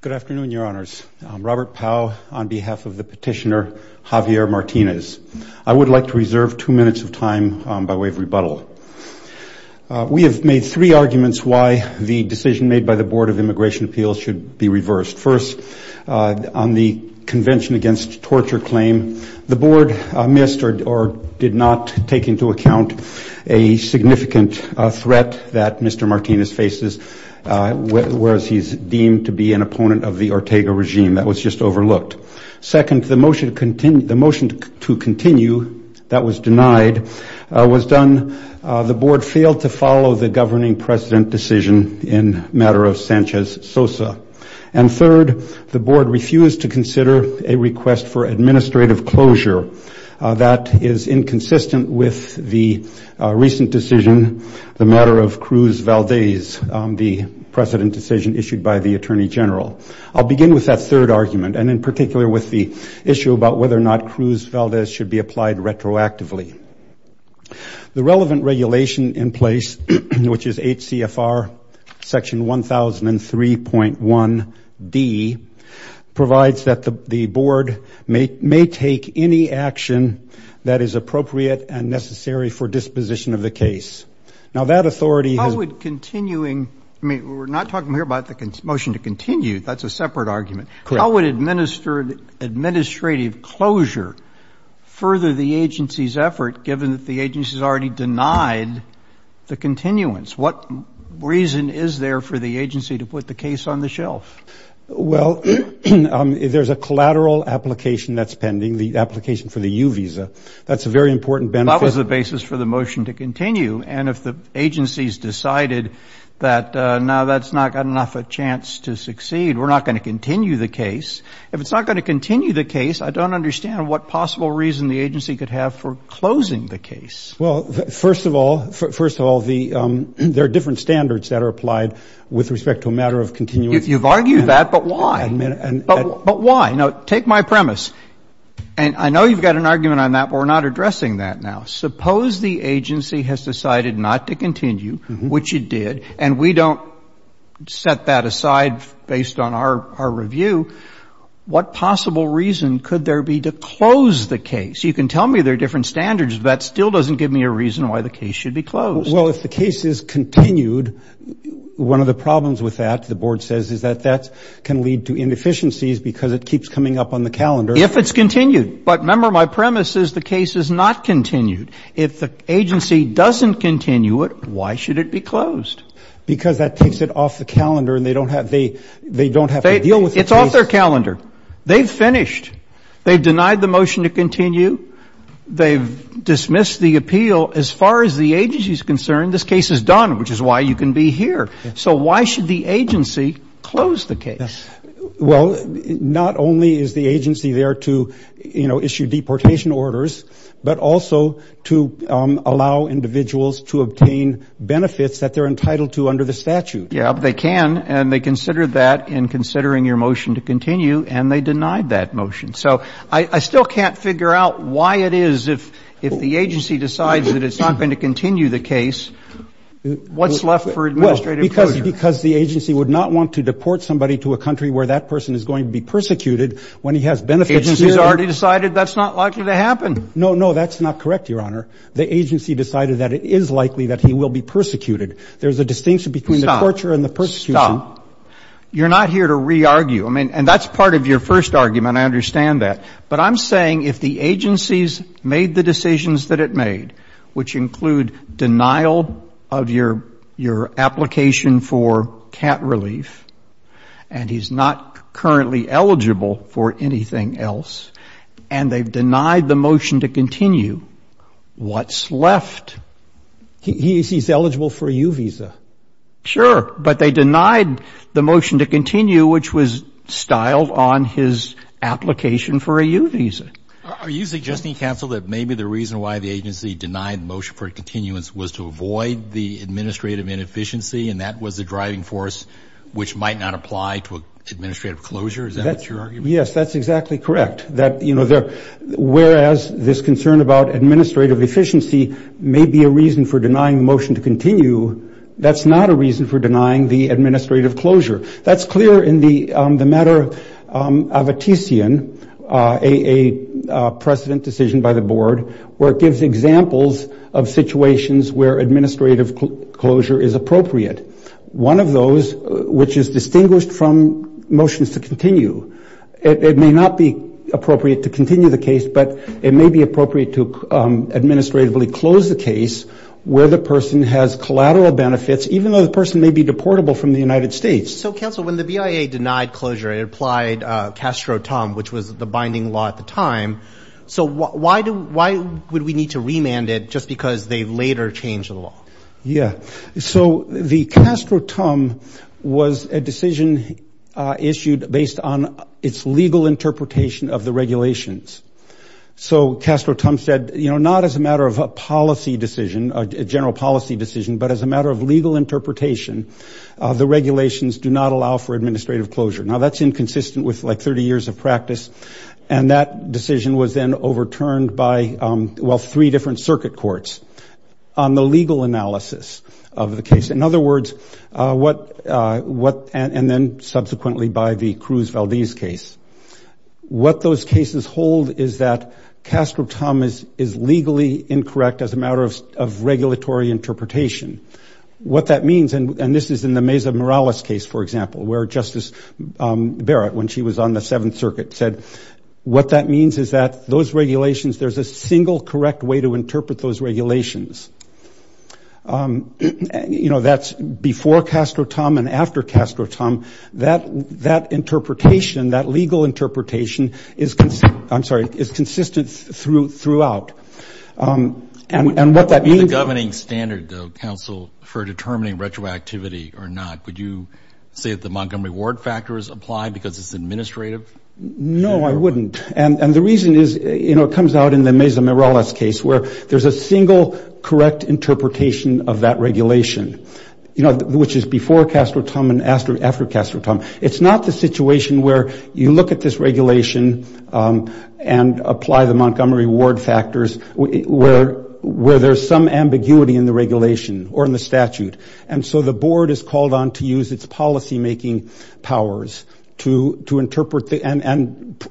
Good afternoon, your honors. I'm Robert Powell on behalf of the petitioner Javier Martinez. I would like to reserve two minutes of time by way of rebuttal. We have made three arguments why the decision made by the Board of Immigration Appeals should be reversed. First, on the Convention Against Torture claim, the board missed or did not take into account a significant threat that Mr. Martinez faces, whereas he's deemed to be an opponent of the Ortega regime. That was just overlooked. Second, the motion to continue that was denied was done, the board failed to follow the governing president decision in matter of Sanchez Sosa. And third, the board refused to consider a request for administrative closure. That is inconsistent with the recent decision, the matter of Cruz Valdez, the precedent decision issued by the Attorney General. I'll begin with that third argument, and in particular with the issue about whether or not Cruz Valdez should be applied retroactively. The relevant regulation in place, which is HCFR section 1003.1D, provides that the board may take any action that is appropriate and necessary for disposition of the case. Now, that authority has... How would continuing, I mean, we're not talking here about the motion to continue, that's a separate argument. Correct. How would administrative closure further the agency's effort, given that the agency has already denied the continuance? What reason is there for the agency to put the case on the shelf? Well, there's a collateral application that's pending, the application for the U visa. That's a very important benefit. That was the basis for the motion to continue. And if the agency's decided that, no, that's not got enough a chance to succeed, we're not going to continue the case. If it's not going to continue the case, I don't understand what possible reason the agency could have for closing the case. Well, first of all, first of all, the, there are different standards that are applied with respect to a matter of continuing. You've argued that, but why? But why? Now, take my premise. And I know you've got an interest in addressing that now. Suppose the agency has decided not to continue, which it did, and we don't set that aside based on our review, what possible reason could there be to close the case? You can tell me there are different standards, but that still doesn't give me a reason why the case should be closed. Well, if the case is continued, one of the problems with that, the board says, is that that can lead to inefficiencies because it keeps coming up on the calendar. If it's continued. But remember, my premise is the case is not continued. If the agency doesn't continue it, why should it be closed? Because that takes it off the calendar and they don't have, they don't have to deal with the case. It's off their calendar. They've finished. They've denied the motion to continue. They've dismissed the appeal. As far as the agency's concerned, this case is done, which is why you can be here. So why should the agency close the case? Well, not only is the agency there to, you know, issue deportation orders, but also to allow individuals to obtain benefits that they're entitled to under the statute. Yeah, but they can, and they considered that in considering your motion to continue, and they denied that motion. So I still can't figure out why it is, if the agency decides that it's not going to continue the case, what's left for administrative closure? Because the agency would not want to deport somebody to a country where that person is going to be persecuted when he has benefits. The agency's already decided that's not likely to happen. No, no, that's not correct, Your Honor. The agency decided that it is likely that he will be persecuted. There's a distinction between the torture and the persecution. Stop. Stop. You're not here to re-argue. I mean, and that's part of your first argument. I understand that. But I'm saying if the agency's made the decisions that it made, which include denial of your application for cat relief, and he's not currently eligible for anything else, and they've denied the motion to continue, what's left? He's eligible for a U visa. Sure, but they denied the motion to continue, which was styled on his application for a U visa. Are you suggesting, counsel, that maybe the reason why the agency denied the motion for continuance was to avoid the administrative inefficiency, and that was the driving force which might not apply to administrative closure? Is that what you're arguing? Yes, that's exactly correct. Whereas this concern about administrative efficiency may be a reason for denying the motion to continue, that's not a reason for denying the administrative closure. That's clear in the matter of a TCN, a precedent decision by the board, where it may be appropriate to administratively close the case where the person has collateral benefits, even though the person may be deportable from the United States. So, counsel, when the BIA denied closure, it applied Castro-Tum, which was the binding law at the time. So why would we need to remand it just because they later changed the law? Yeah. So the Castro-Tum was a decision issued based on its legal interpretation of the regulations. So Castro-Tum said, you know, not as a matter of a policy decision, a general policy decision, but as a matter of legal interpretation, the regulations do not allow for administrative closure. And that decision was then overturned by, well, three different circuit courts on the legal analysis of the case. In other words, and then subsequently by the Cruz-Valdez case, what those cases hold is that Castro-Tum is legally incorrect as a matter of regulatory interpretation. What that means, and this is in the Meza-Morales case, for example, where Justice Barrett, when she was on the Seventh Circuit, said what that means is that those regulations, there's a single correct way to interpret those regulations. You know, that's before Castro-Tum and after Castro-Tum, that interpretation, that legal interpretation is consistent, I'm sorry, is consistent throughout. And what that means... Is the governing standard, though, counsel, for determining retroactivity or not? Would you say that the Montgomery Ward factor is applied because it's administrative? No, I wouldn't. And the reason is, you know, it comes out in the Meza-Morales case where there's a single correct interpretation of that regulation, you know, which is before Castro-Tum and after Castro-Tum. It's not the situation where you look at this regulation and apply the Montgomery Ward factors where there's some ambiguity in the regulation or in the statute. And so the board is called on to use its policymaking powers to interpret the, and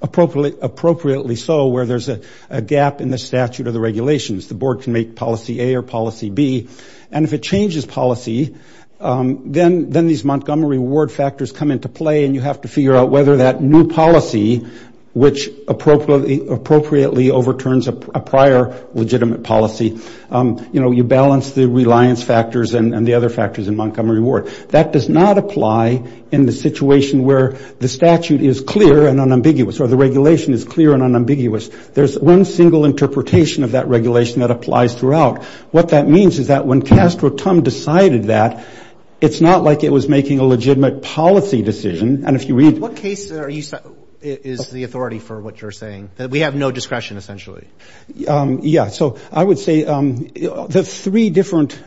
appropriately so, where there's a gap in the statute or the regulations. The board can make policy A or policy B. And if it changes policy, then these Montgomery Ward factors come into play and you have to figure out whether that new policy, which appropriately overturns a prior legitimate policy. You know, you balance the reliance factors and the other factors in Montgomery Ward. That does not apply in the situation where the statute is clear and unambiguous or the regulation is clear and unambiguous. There's one single interpretation of that regulation that applies throughout. What that means is that when Castro-Tum decided that, it's not like it was making a legitimate policy decision. And if you read... Is the authority for what you're saying, that we have no discretion, essentially? Yeah. So I would say the three different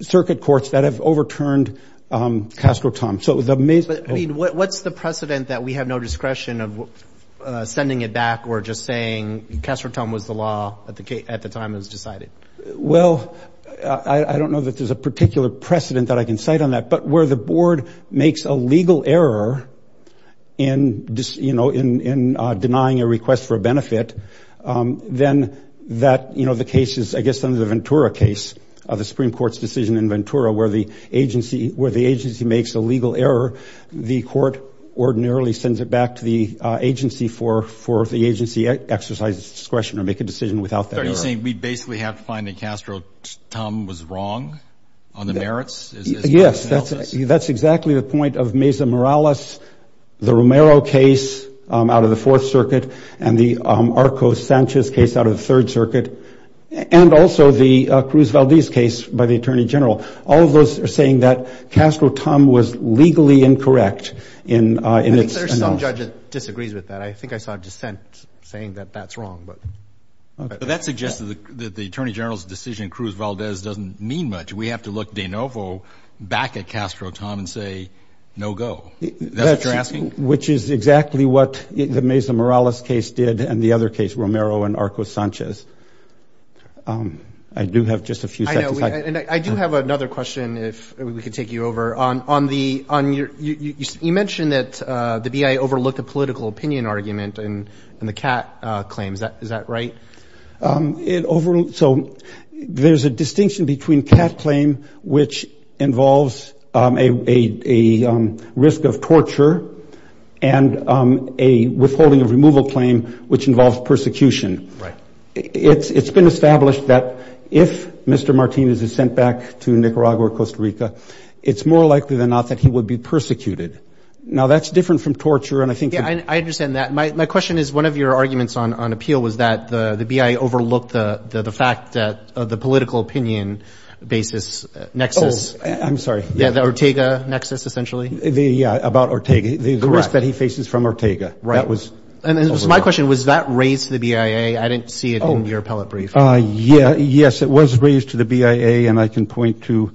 circuit courts that have overturned Castro-Tum. So the main... But I mean, what's the precedent that we have no discretion of sending it back or just saying Castro-Tum was the law at the time it was decided? Well, I don't know that there's a particular precedent that I can cite on that, but where the board makes a legal error in denying a request for a benefit, then that, you know, the case is, I guess, under the Ventura case of the Supreme Court's decision in Ventura, where the agency makes a legal error. The court ordinarily sends it back to the agency for the agency exercise discretion or make a decision without that error. So you're saying we basically have to find that Castro-Tum was wrong on the merits? Yes, that's exactly the point of Mesa Morales, the Romero case out of the Fourth Circuit, and the Arcos-Sanchez case out of the Third Circuit, and also the Cruz-Valdez case by the Attorney General. All of those are saying that Castro-Tum was legally incorrect. I think there's some judge that disagrees with that. I think I saw dissent saying that that's wrong. But that suggests that the Attorney General's decision, Cruz-Valdez, doesn't mean much. We have to look de novo back at Castro-Tum and say, no go. That's what you're asking? Which is exactly what the Mesa Morales case did and the other case, Romero and Arcos-Sanchez. I do have just a few seconds. I know, and I do have another question, if we could take you over. On the, on your, you mentioned that the BIA overlooked a political opinion argument in the Cat claims. Is that right? It overlooked, so there's a distinction between Cat claim, which involves a, a, a risk of torture, and a withholding of removal claim, which involves persecution. Right. It's, it's been established that if Mr. Martinez is sent back to Nicaragua or Costa Rica, it's more likely than not that he would be persecuted. Now, that's different from torture, and I think... I, I understand that. My, my question is one of your arguments on, on appeal was that the, the BIA overlooked the, the, the fact that the political opinion basis nexus... Oh, I'm sorry. Yeah, the Ortega nexus, essentially. The, yeah, about Ortega. Correct. The risk that he faces from Ortega. Right. That was... And, and so my question, was that raised to the BIA? I didn't see it in your appellate brief. Oh, yeah, yes, it was raised to the BIA, and I can point to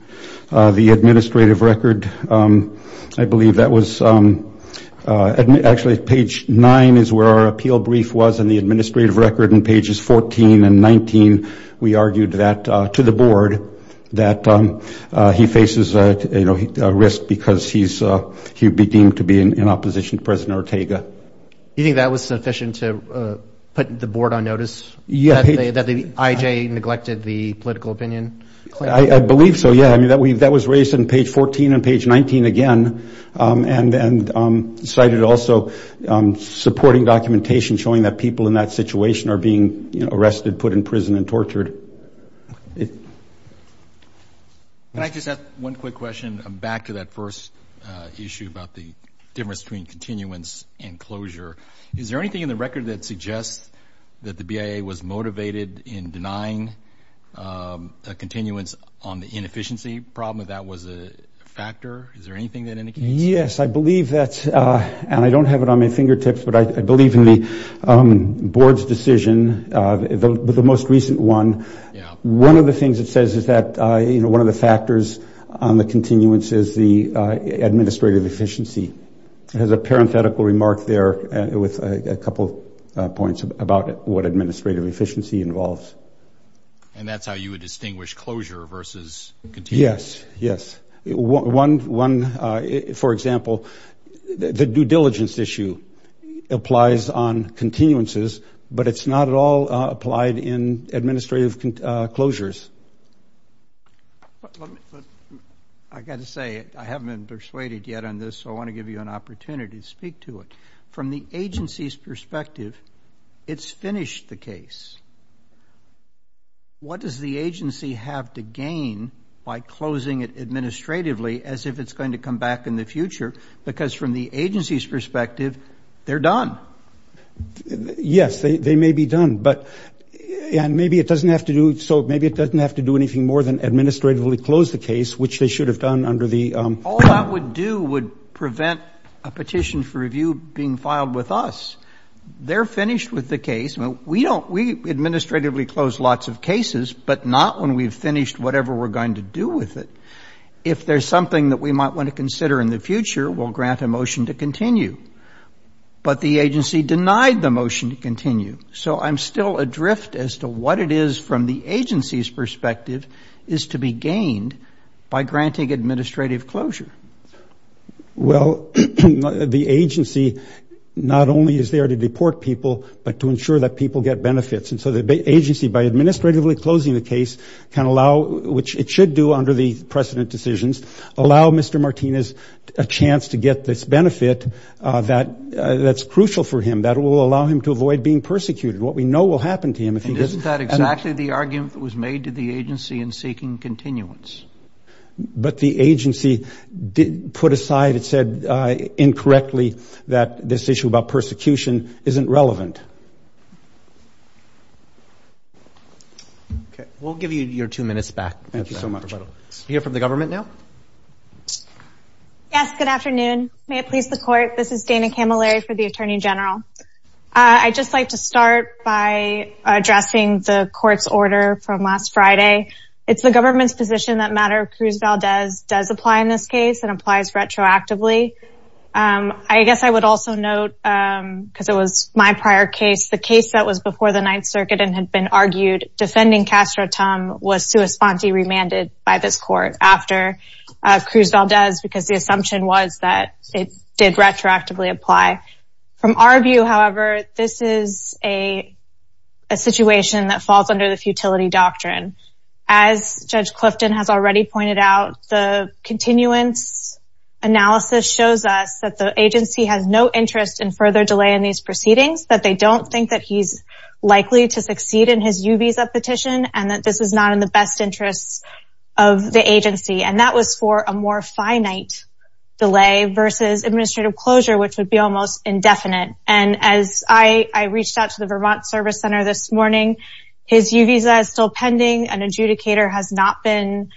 the administrative record. I believe that was, actually, page nine is where our appeal brief was in the administrative record, and pages 14 and 19, we argued that, to the board, that he faces, you know, a risk because he's, he would be deemed to be in opposition to President Ortega. You think that was sufficient to put the board on notice? Yeah. That the IJ neglected the political opinion claim? I believe so, yeah. I mean, that we, that was raised in page 14 and page 19 again, and, and cited also supporting documentation showing that people in that situation are being, you know, arrested, put in prison, and tortured. Can I just ask one quick question? Back to that first issue about the difference between continuance and closure. Is there anything in the record that suggests that the BIA was motivated in denying continuance on the inefficiency problem? That was a factor? Is there anything that indicates? Yes, I believe that, and I don't have it on my fingertips, but I believe in the board's decision, the most recent one. One of the things it says is that, you know, one of the factors on the continuance is the administrative efficiency. It has a parenthetical remark there with a couple points about what administrative efficiency involves. And that's how you would distinguish closure versus continuance? Yes, yes. One, for example, the due diligence issue applies on continuances, but it's not at all applied in administrative closures. I got to say, I haven't been persuaded yet on this, so I want to give you an opportunity to speak to it. From the agency's perspective, it's finished the case. What does the agency have to gain by closing it administratively as if it's going to come back in the future? Because from the agency's perspective, they're done. Yes, they may be done, but and maybe it doesn't have to do so. Maybe it doesn't have to do anything more than administratively close the case, which they should have done under the. All that would do would prevent a petition for review being filed with us. They're finished with the case. We administratively close lots of cases, but not when we've finished whatever we're going to do with it. If there's something that we might want to consider in the future, we'll grant a motion to continue. But the agency denied the motion to continue. So I'm still adrift as to what it is from the agency's perspective is to be gained by granting administrative closure. Well, the agency not only is there to deport people, but to ensure that people get benefits. And so the agency, by administratively closing the case, can allow, which it should do under the precedent decisions, allow Mr. Martinez a chance to get this benefit that's crucial for him, that will allow him to avoid being persecuted. What we know will happen to him. And isn't that exactly the argument that was made to the agency in seeking continuance? But the agency did put aside. It said incorrectly that this issue about persecution isn't relevant. Okay. We'll give you your two minutes back. Thank you so much. Hear from the government now? Yes. Good afternoon. May it please the court. This is Dana Camilleri for the Attorney General. I'd just like to start by addressing the court's order from last Friday. It's the government's position that matter Cruz Valdez does apply in this case and applies retroactively. I guess I would also note, because it was my prior case, the case that was before the Ninth Circuit and had been argued defending Castro Tum was sui sponte remanded by this court after Cruz Valdez, because the assumption was that it did retroactively apply. From our view, however, this is a situation that falls under the futility doctrine. As Judge Clifton has already pointed out, the continuance analysis shows us that the agency has no interest in further delay in these proceedings, that they don't think that he's likely to succeed in his U visa petition, and that this is not in the best interests of the agency. And that was for a more finite delay versus administrative closure, which would be almost indefinite. And as I reached out to the Vermont Service Center this morning, his U visa is still pending and adjudicator has not been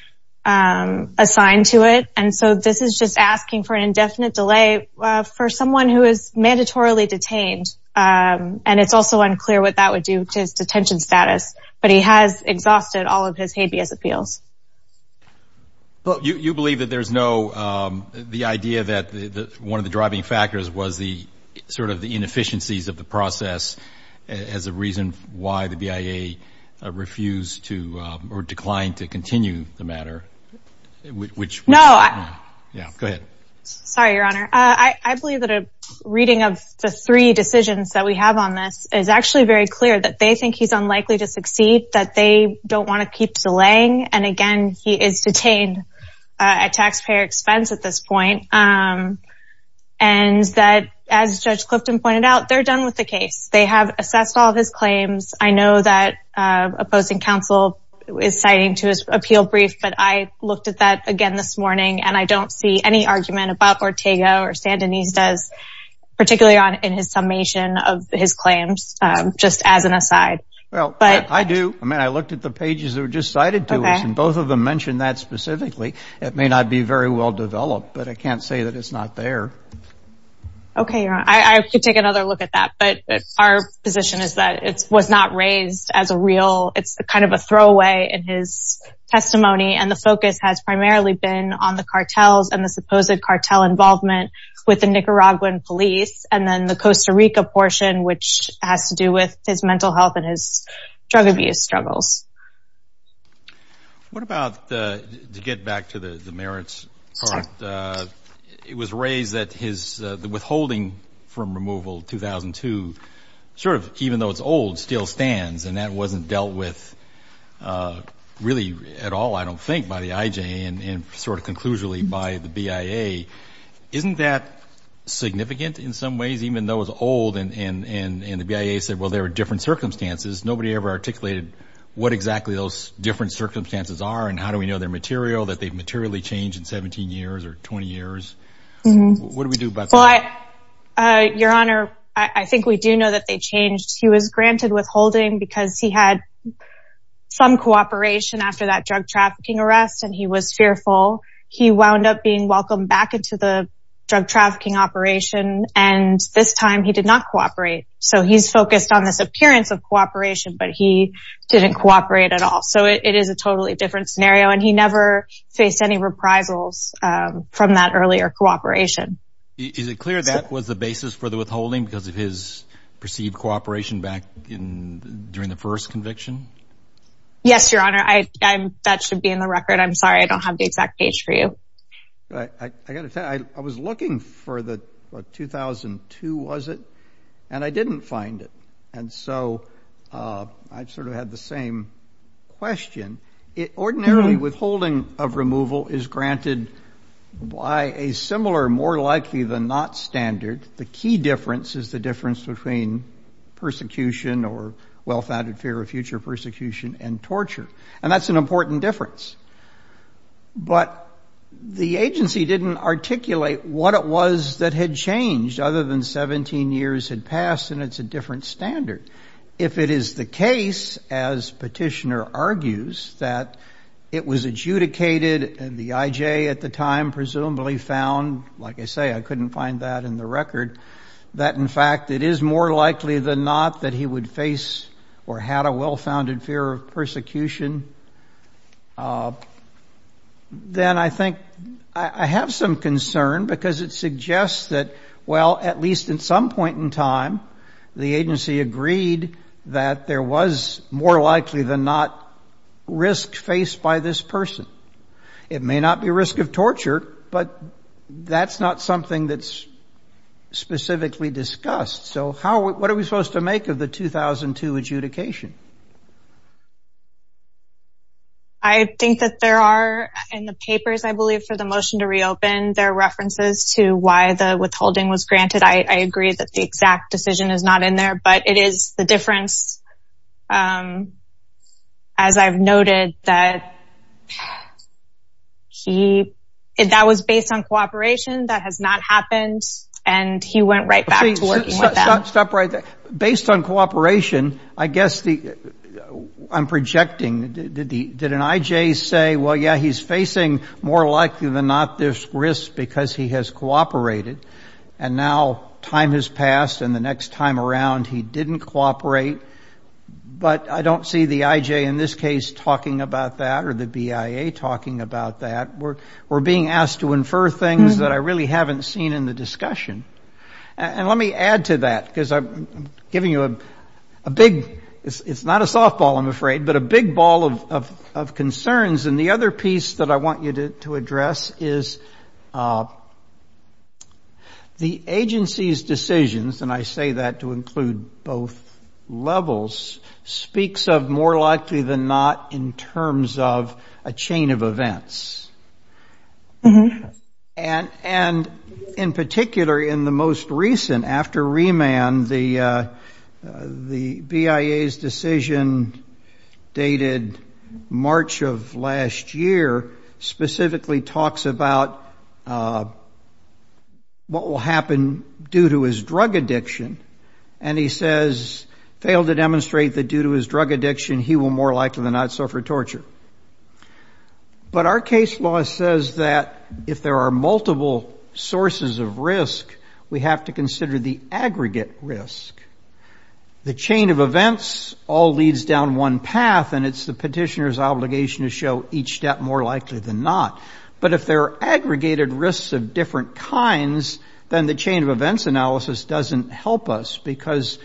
assigned to it. And so this is just asking for an indefinite delay for someone who is mandatorily detained. And it's also unclear what that would do to his detention status. But he has exhausted all of his habeas appeals. Well, you believe that there's no the idea that one of the driving factors was the sort of the inefficiencies of the process as a reason why the BIA refused to or declined to continue the matter, which... No. Yeah, go ahead. Sorry, Your Honor. I believe that a reading of the three decisions that we have on this is actually very clear that they think he's unlikely to succeed, that they don't want to keep delaying. And again, he is detained at taxpayer expense at this point. And that, as Judge Clifton pointed out, they're done with the case. They have assessed all of his claims. I know that opposing counsel is citing to his appeal brief, but I looked at that again this morning and I don't see any argument about Ortega or Sandinista, particularly on in his summation of his claims, just as an aside. Well, I do. I mean, I looked at the pages that were just cited to us and both of them mentioned that specifically. It may not be very well developed, but I can't say that it's not there. Okay, Your Honor. I could take another look at that, but our position is that it was not raised as a real, it's kind of a throwaway in his testimony. And the focus has primarily been on the cartels and the supposed cartel involvement with the Nicaraguan police and then the Costa Rica portion, which has to do with his mental health and his drug abuse struggles. What about, to get back to the merits part, it was raised that his, the withholding from removal, 2002, sort of, even though it's old, still stands and that wasn't dealt with really at all, I don't think, by the IJA and sort of conclusively by the BIA. Isn't that significant in some ways, even though it's old and the BIA said, well, there are different circumstances? Nobody ever articulated what exactly those different circumstances are and how do we know they're material, that they've materially changed in 17 years or 20 years? What do we do about that? Well, Your Honor, I think we do know that they changed. He was granted withholding because he had some cooperation after that drug trafficking arrest and he was fearful. He wound up being welcomed back into the drug trafficking operation. And this time he did not cooperate. So he's focused on this appearance of cooperation, but he didn't cooperate at all. So it is a totally different scenario. And he never faced any reprisals from that earlier cooperation. Is it clear that was the basis for the withholding because of his perceived cooperation back in during the first conviction? Yes, Your Honor, that should be in the record. I'm sorry, I don't have the exact page for you. I got to tell you, I was looking for the 2002, was it? And I didn't find it. And so I sort of had the same question. It ordinarily withholding of removal is granted by a similar, more likely than not standard. The key difference is the difference between persecution or well-founded fear of future persecution and torture. And that's an important difference. But the agency didn't articulate what it was that had changed other than 17 years had passed, and it's a different standard. If it is the case, as Petitioner argues, that it was adjudicated and the IJ at the time presumably found, like I say, I couldn't find that in the record, that in fact, it is more likely than not that he would face or had a well-founded fear of persecution. Then I think I have some concern because it suggests that, well, at least at some point in time, the agency agreed that there was more likely than not risk faced by this person. It may not be a risk of torture, but that's not something that's specifically discussed. So what are we supposed to make of the 2002 adjudication? I think that there are, in the papers, I believe, for the motion to reopen, there are references to why the withholding was granted. I agree that the exact decision is not in there, but it is the difference, as I've noted, that he, that was based on cooperation that has not happened. And he went right back to working with them. Stop right there. Based on cooperation, I guess the, I'm projecting, did an IJ say, well, yeah, he's facing more likely than not this risk because he has cooperated, and now time has passed and the next time around he didn't cooperate. But I don't see the IJ in this case talking about that or the BIA talking about that. We're being asked to infer things that I really haven't seen in the discussion. And let me add to that, because I'm giving you a big, it's not a softball, I'm afraid, but a big ball of concerns. And the other piece that I want you to address is the agency's decisions, and I say that to include both levels, speaks of more likely than not in terms of a chain of events. And in particular, in the most recent, after remand, the BIA's decision dated March of last year specifically talks about what will happen due to his drug addiction, and he says, failed to demonstrate that due to his drug addiction, he will more likely than not suffer torture. But our case law says that if there are multiple sources of risk, we have to consider the aggregate risk. The chain of events all leads down one path, and it's the petitioner's obligation to show each step more likely than not. But if there are aggregated risks of different kinds, then the chain of events analysis doesn't help us because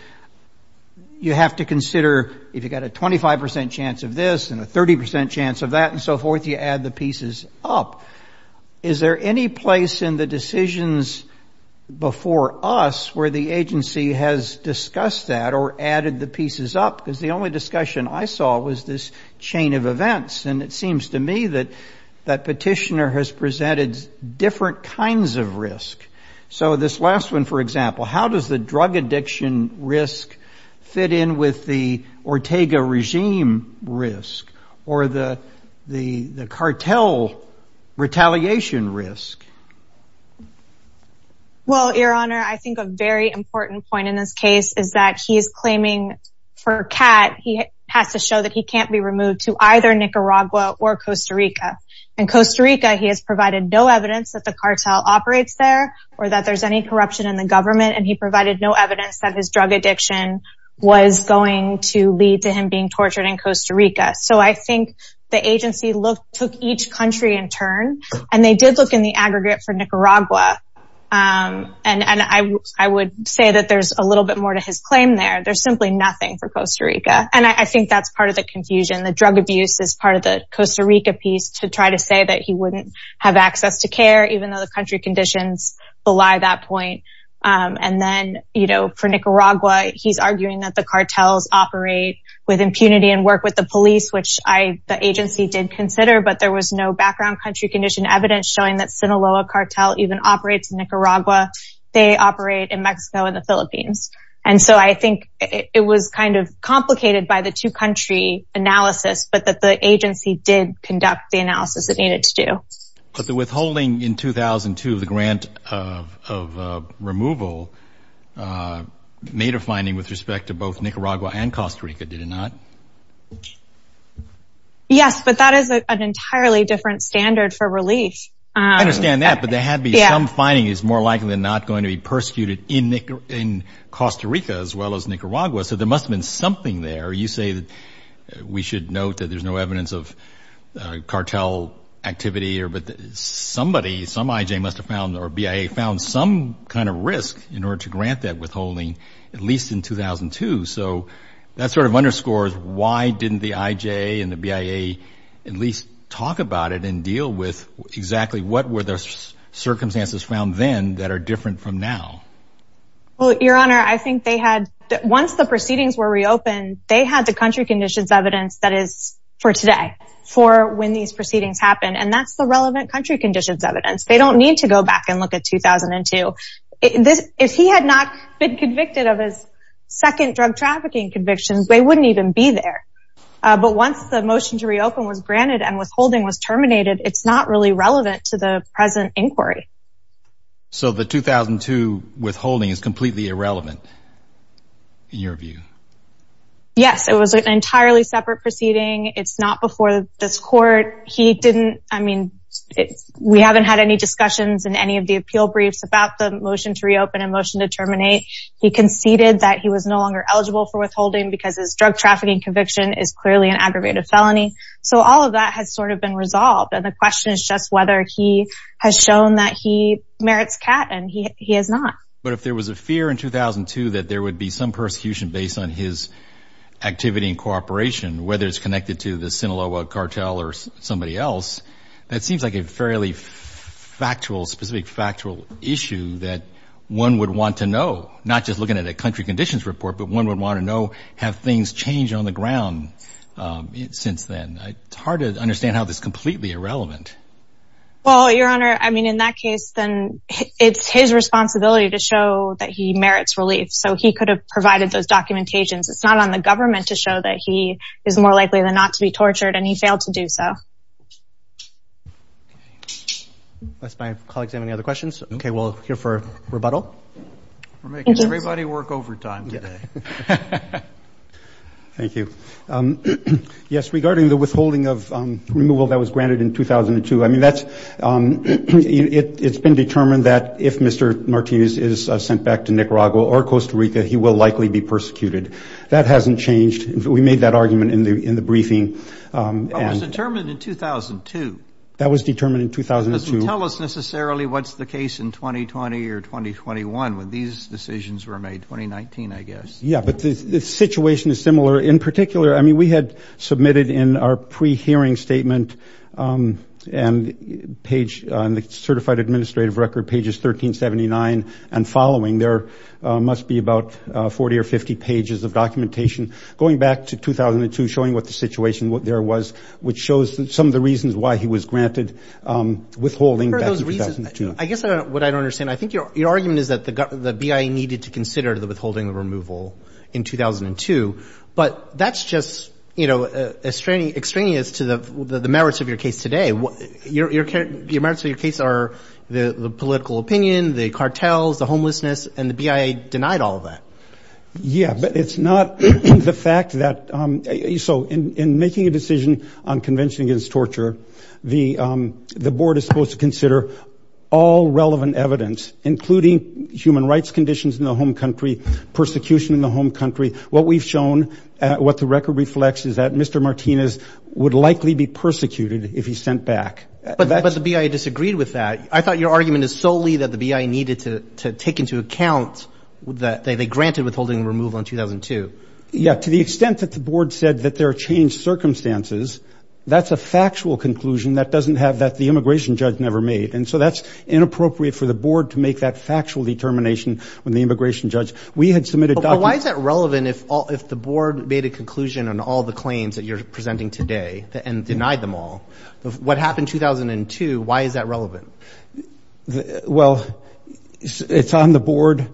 you have to consider if you've got a 25 percent chance of this and a 30 percent chance of that and so forth, you add the pieces up. Is there any place in the decisions before us where the agency has discussed that or added the pieces up? Because the only discussion I saw was this chain of events, and it seems to me that that petitioner has presented different kinds of risk. So this last one, for example, how does the drug addiction risk fit in with the Ortega regime risk or the cartel retaliation risk? Well, your honor, I think a very important point in this case is that he is claiming for CAT, he has to show that he can't be removed to either Nicaragua or Costa Rica. In Costa Rica, he has provided no evidence that the cartel operates there or that there's any corruption in the government. And he provided no evidence that his drug addiction was going to lead to him being tortured in Costa Rica. So I think the agency took each country in turn, and they did look in the aggregate for Nicaragua. And I would say that there's a little bit more to his claim there. There's simply nothing for Costa Rica. And I think that's part of the confusion. The drug abuse is part of the Costa Rica piece to try to say that he wouldn't have access to care, even though the country conditions belie that point. And then for Nicaragua, he's arguing that the cartels operate with impunity and work with the police, which the agency did consider. But there was no background country condition evidence showing that Sinaloa cartel even operates in Nicaragua. They operate in Mexico and the Philippines. And so I think it was kind of complicated by the two country analysis, but that the agency did conduct the analysis it needed to do. But the withholding in 2002, the grant of removal made a finding with respect to both Nicaragua and Costa Rica, did it not? Yes, but that is an entirely different standard for relief. I understand that, but there had to be some finding is more likely than not going to be persecuted in Costa Rica as well as Nicaragua. So there must have been something there. You say that we should note that there's no evidence of cartel activity or somebody, some IJ must have found or BIA found some kind of risk in order to grant that withholding, at least in 2002. So that sort of underscores why didn't the IJ and the BIA at least talk about it and deal with exactly what were the circumstances found then that are different from now? Well, your honor, I think they had once the proceedings were reopened, they had the country conditions evidence that is for today for when these proceedings happen. And that's the relevant country conditions evidence. They don't need to go back and look at 2002. If he had not been convicted of his second drug trafficking convictions, they wouldn't even be there. But once the motion to reopen was granted and withholding was terminated, it's not really relevant to the present inquiry. So the 2002 withholding is completely irrelevant in your view? Yes, it was an entirely separate proceeding. It's not before this court. He didn't. I mean, we haven't had any discussions in any of the appeal briefs about the motion to reopen a motion to terminate. He conceded that he was no longer eligible for withholding because his drug trafficking conviction is clearly an aggravated felony. So all of that has sort of been resolved. And the question is just whether he has shown that he merits CAT and he has not. But if there was a fear in 2002 that there would be some persecution based on his activity and cooperation, whether it's connected to the Sinaloa cartel or somebody else, that seems like a fairly factual, specific factual issue that one would want to know, not just looking at a country conditions report, but one would want to know, have things changed on the ground since then? It's hard to understand how this is completely irrelevant. Well, Your Honor, I mean, in that case, then it's his responsibility to show that he merits relief. So he could have provided those documentations. It's not on the government to show that he is more likely than not to be tortured, and he failed to do so. Unless my colleagues have any other questions. Okay, we'll hear for rebuttal. We're making everybody work overtime today. Thank you. Yes, regarding the withholding of removal that was granted in 2002, I mean, it's been determined that if Mr. Martinez is sent back to Nicaragua or Costa Rica, he will likely be persecuted. That hasn't changed. We made that argument in the briefing. It was determined in 2002. That was determined in 2002. It doesn't tell us necessarily what's the case in 2020 or 2021 when these decisions were made. 2019, I guess. Yeah, but the situation is similar. In particular, I mean, we had submitted in our pre-hearing statement and page on the certified administrative record, pages 1379 and following, there must be about 40 or 50 pages of documentation going back to 2002, showing what the situation there was, which shows some of the reasons why he was granted withholding back in 2002. I guess what I don't understand. I think your argument is that the BIA needed to consider the withholding of removal in That's just extraneous to the merits of your case today. The merits of your case are the political opinion, the cartels, the homelessness, and the BIA denied all of that. Yeah, but it's not the fact that... So in making a decision on Convention Against Torture, the board is supposed to consider all relevant evidence, including human rights conditions in the home country, persecution in the home country. What we've shown, what the record reflects, is that Mr. Martinez would likely be persecuted if he's sent back. But the BIA disagreed with that. I thought your argument is solely that the BIA needed to take into account that they granted withholding removal in 2002. Yeah, to the extent that the board said that there are changed circumstances, that's a factual conclusion that doesn't have... that the immigration judge never made. And so that's inappropriate for the board to make that factual determination when the immigration judge... Why is that relevant if the board made a conclusion on all the claims that you're presenting today and denied them all? What happened in 2002, why is that relevant? Well, it's on the board.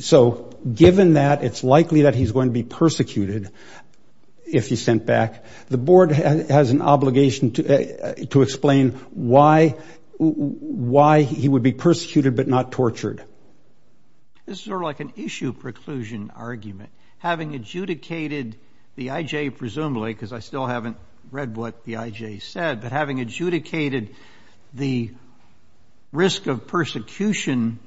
So given that it's likely that he's going to be persecuted if he's sent back, the board has an obligation to explain why he would be persecuted but not tortured. This is sort of like an issue preclusion argument. Having adjudicated the IJ, presumably, because I still haven't read what the IJ said, but having adjudicated the risk of persecution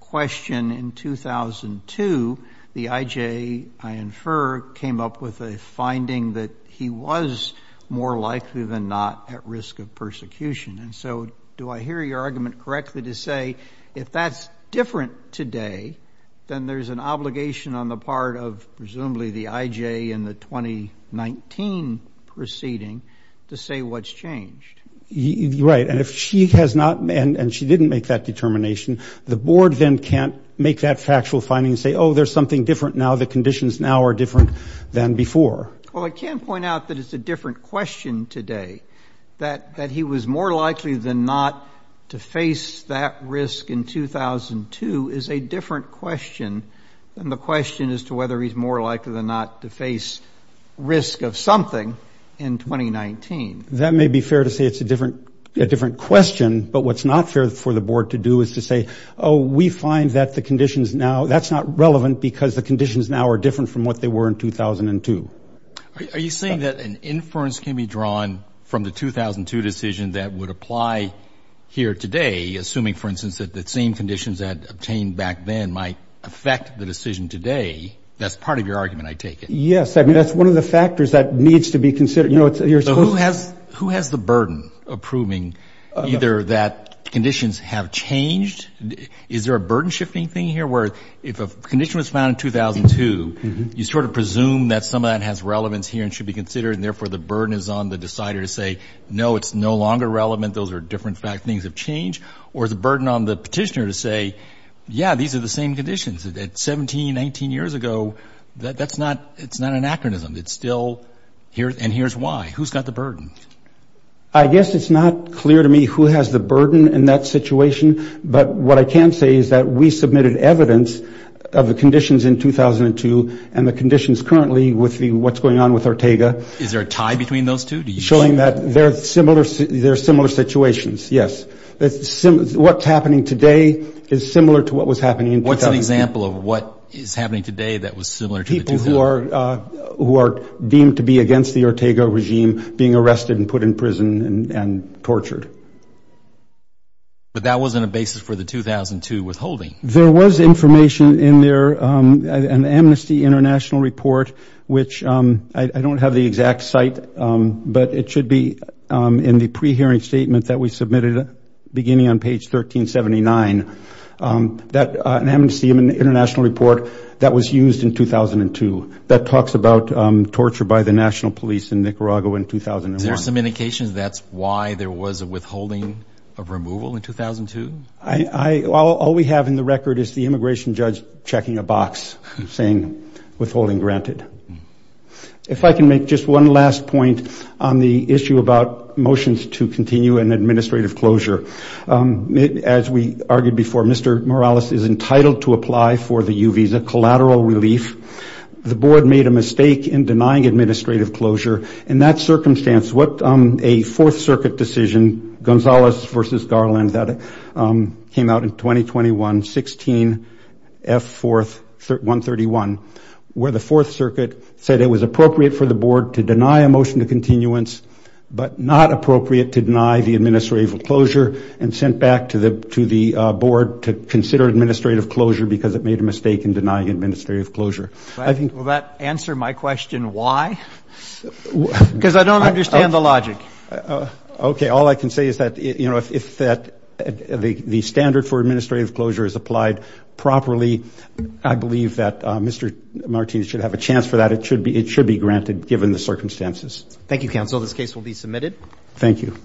question in 2002, the IJ, I infer, came up with a finding that he was more likely than not at risk of persecution. And so do I hear your argument correctly to say if that's different today, then there's an obligation on the part of, presumably, the IJ in the 2019 proceeding to say what's changed? Right. And if she has not... and she didn't make that determination, the board then can't make that factual finding and say, oh, there's something different now, the conditions now are different than before. Well, I can point out that it's a different question today, that he was more likely than not to face that risk in 2002 is a different question than the question as to whether he's more likely than not to face risk of something in 2019. That may be fair to say it's a different question. But what's not fair for the board to do is to say, oh, we find that the conditions now, that's not relevant because the conditions now are different from what they were in 2002. Are you saying that an inference can be drawn from the 2002 decision that would apply here today, assuming, for instance, that the same conditions that obtained back then might affect the decision today? That's part of your argument, I take it? Yes. I mean, that's one of the factors that needs to be considered. You know, it's... So who has the burden of proving either that conditions have changed? Is there a burden shifting thing here where if a condition was found in 2002, you sort of presume that some of that has relevance here and should be considered, and therefore the burden is on the decider to say, no, it's no longer relevant. Those are different things have changed. Or is the burden on the petitioner to say, yeah, these are the same conditions that 17, 19 years ago. That's not... It's not an anachronism. It's still... And here's why. Who's got the burden? I guess it's not clear to me who has the burden in that situation. But what I can say is that we submitted evidence of the conditions in 2002 and the conditions currently with what's going on with Ortega. Is there a tie between those two? Do you... Showing that they're similar situations. Yes. What's happening today is similar to what was happening in 2002. What's an example of what is happening today that was similar to the 2002? People who are deemed to be against the Ortega regime being arrested and put in prison and tortured. But that wasn't a basis for the 2002 withholding. There was information in there, an Amnesty International report, which I don't have the exact site, but it should be in the pre-hearing statement that we submitted beginning on page 1379. That Amnesty International report that was used in 2002, that talks about torture by the national police in Nicaragua in 2001. Is there some indication that's why there was a withholding of removal in 2002? All we have in the record is the immigration judge checking a box saying withholding granted. If I can make just one last point on the issue about motions to continue an administrative closure. As we argued before, Mr. Morales is entitled to apply for the U visa collateral relief. The board made a mistake in denying administrative closure. In that circumstance, what a Fourth Circuit decision, Gonzalez versus Garland, that came out in 2021-16, F4-131, where the Fourth Circuit said it was appropriate for the board to deny a motion to continuance, but not appropriate to deny the administrative closure and sent back to the board to consider administrative closure because it made a mistake in denying administrative closure. Will that answer my question why? Because I don't understand the logic. Okay. All I can say is that if the standard for administrative closure is applied properly, I believe that Mr. Martinez should have a chance for that. It should be granted given the circumstances. Thank you, counsel. This case will be submitted. Thank you.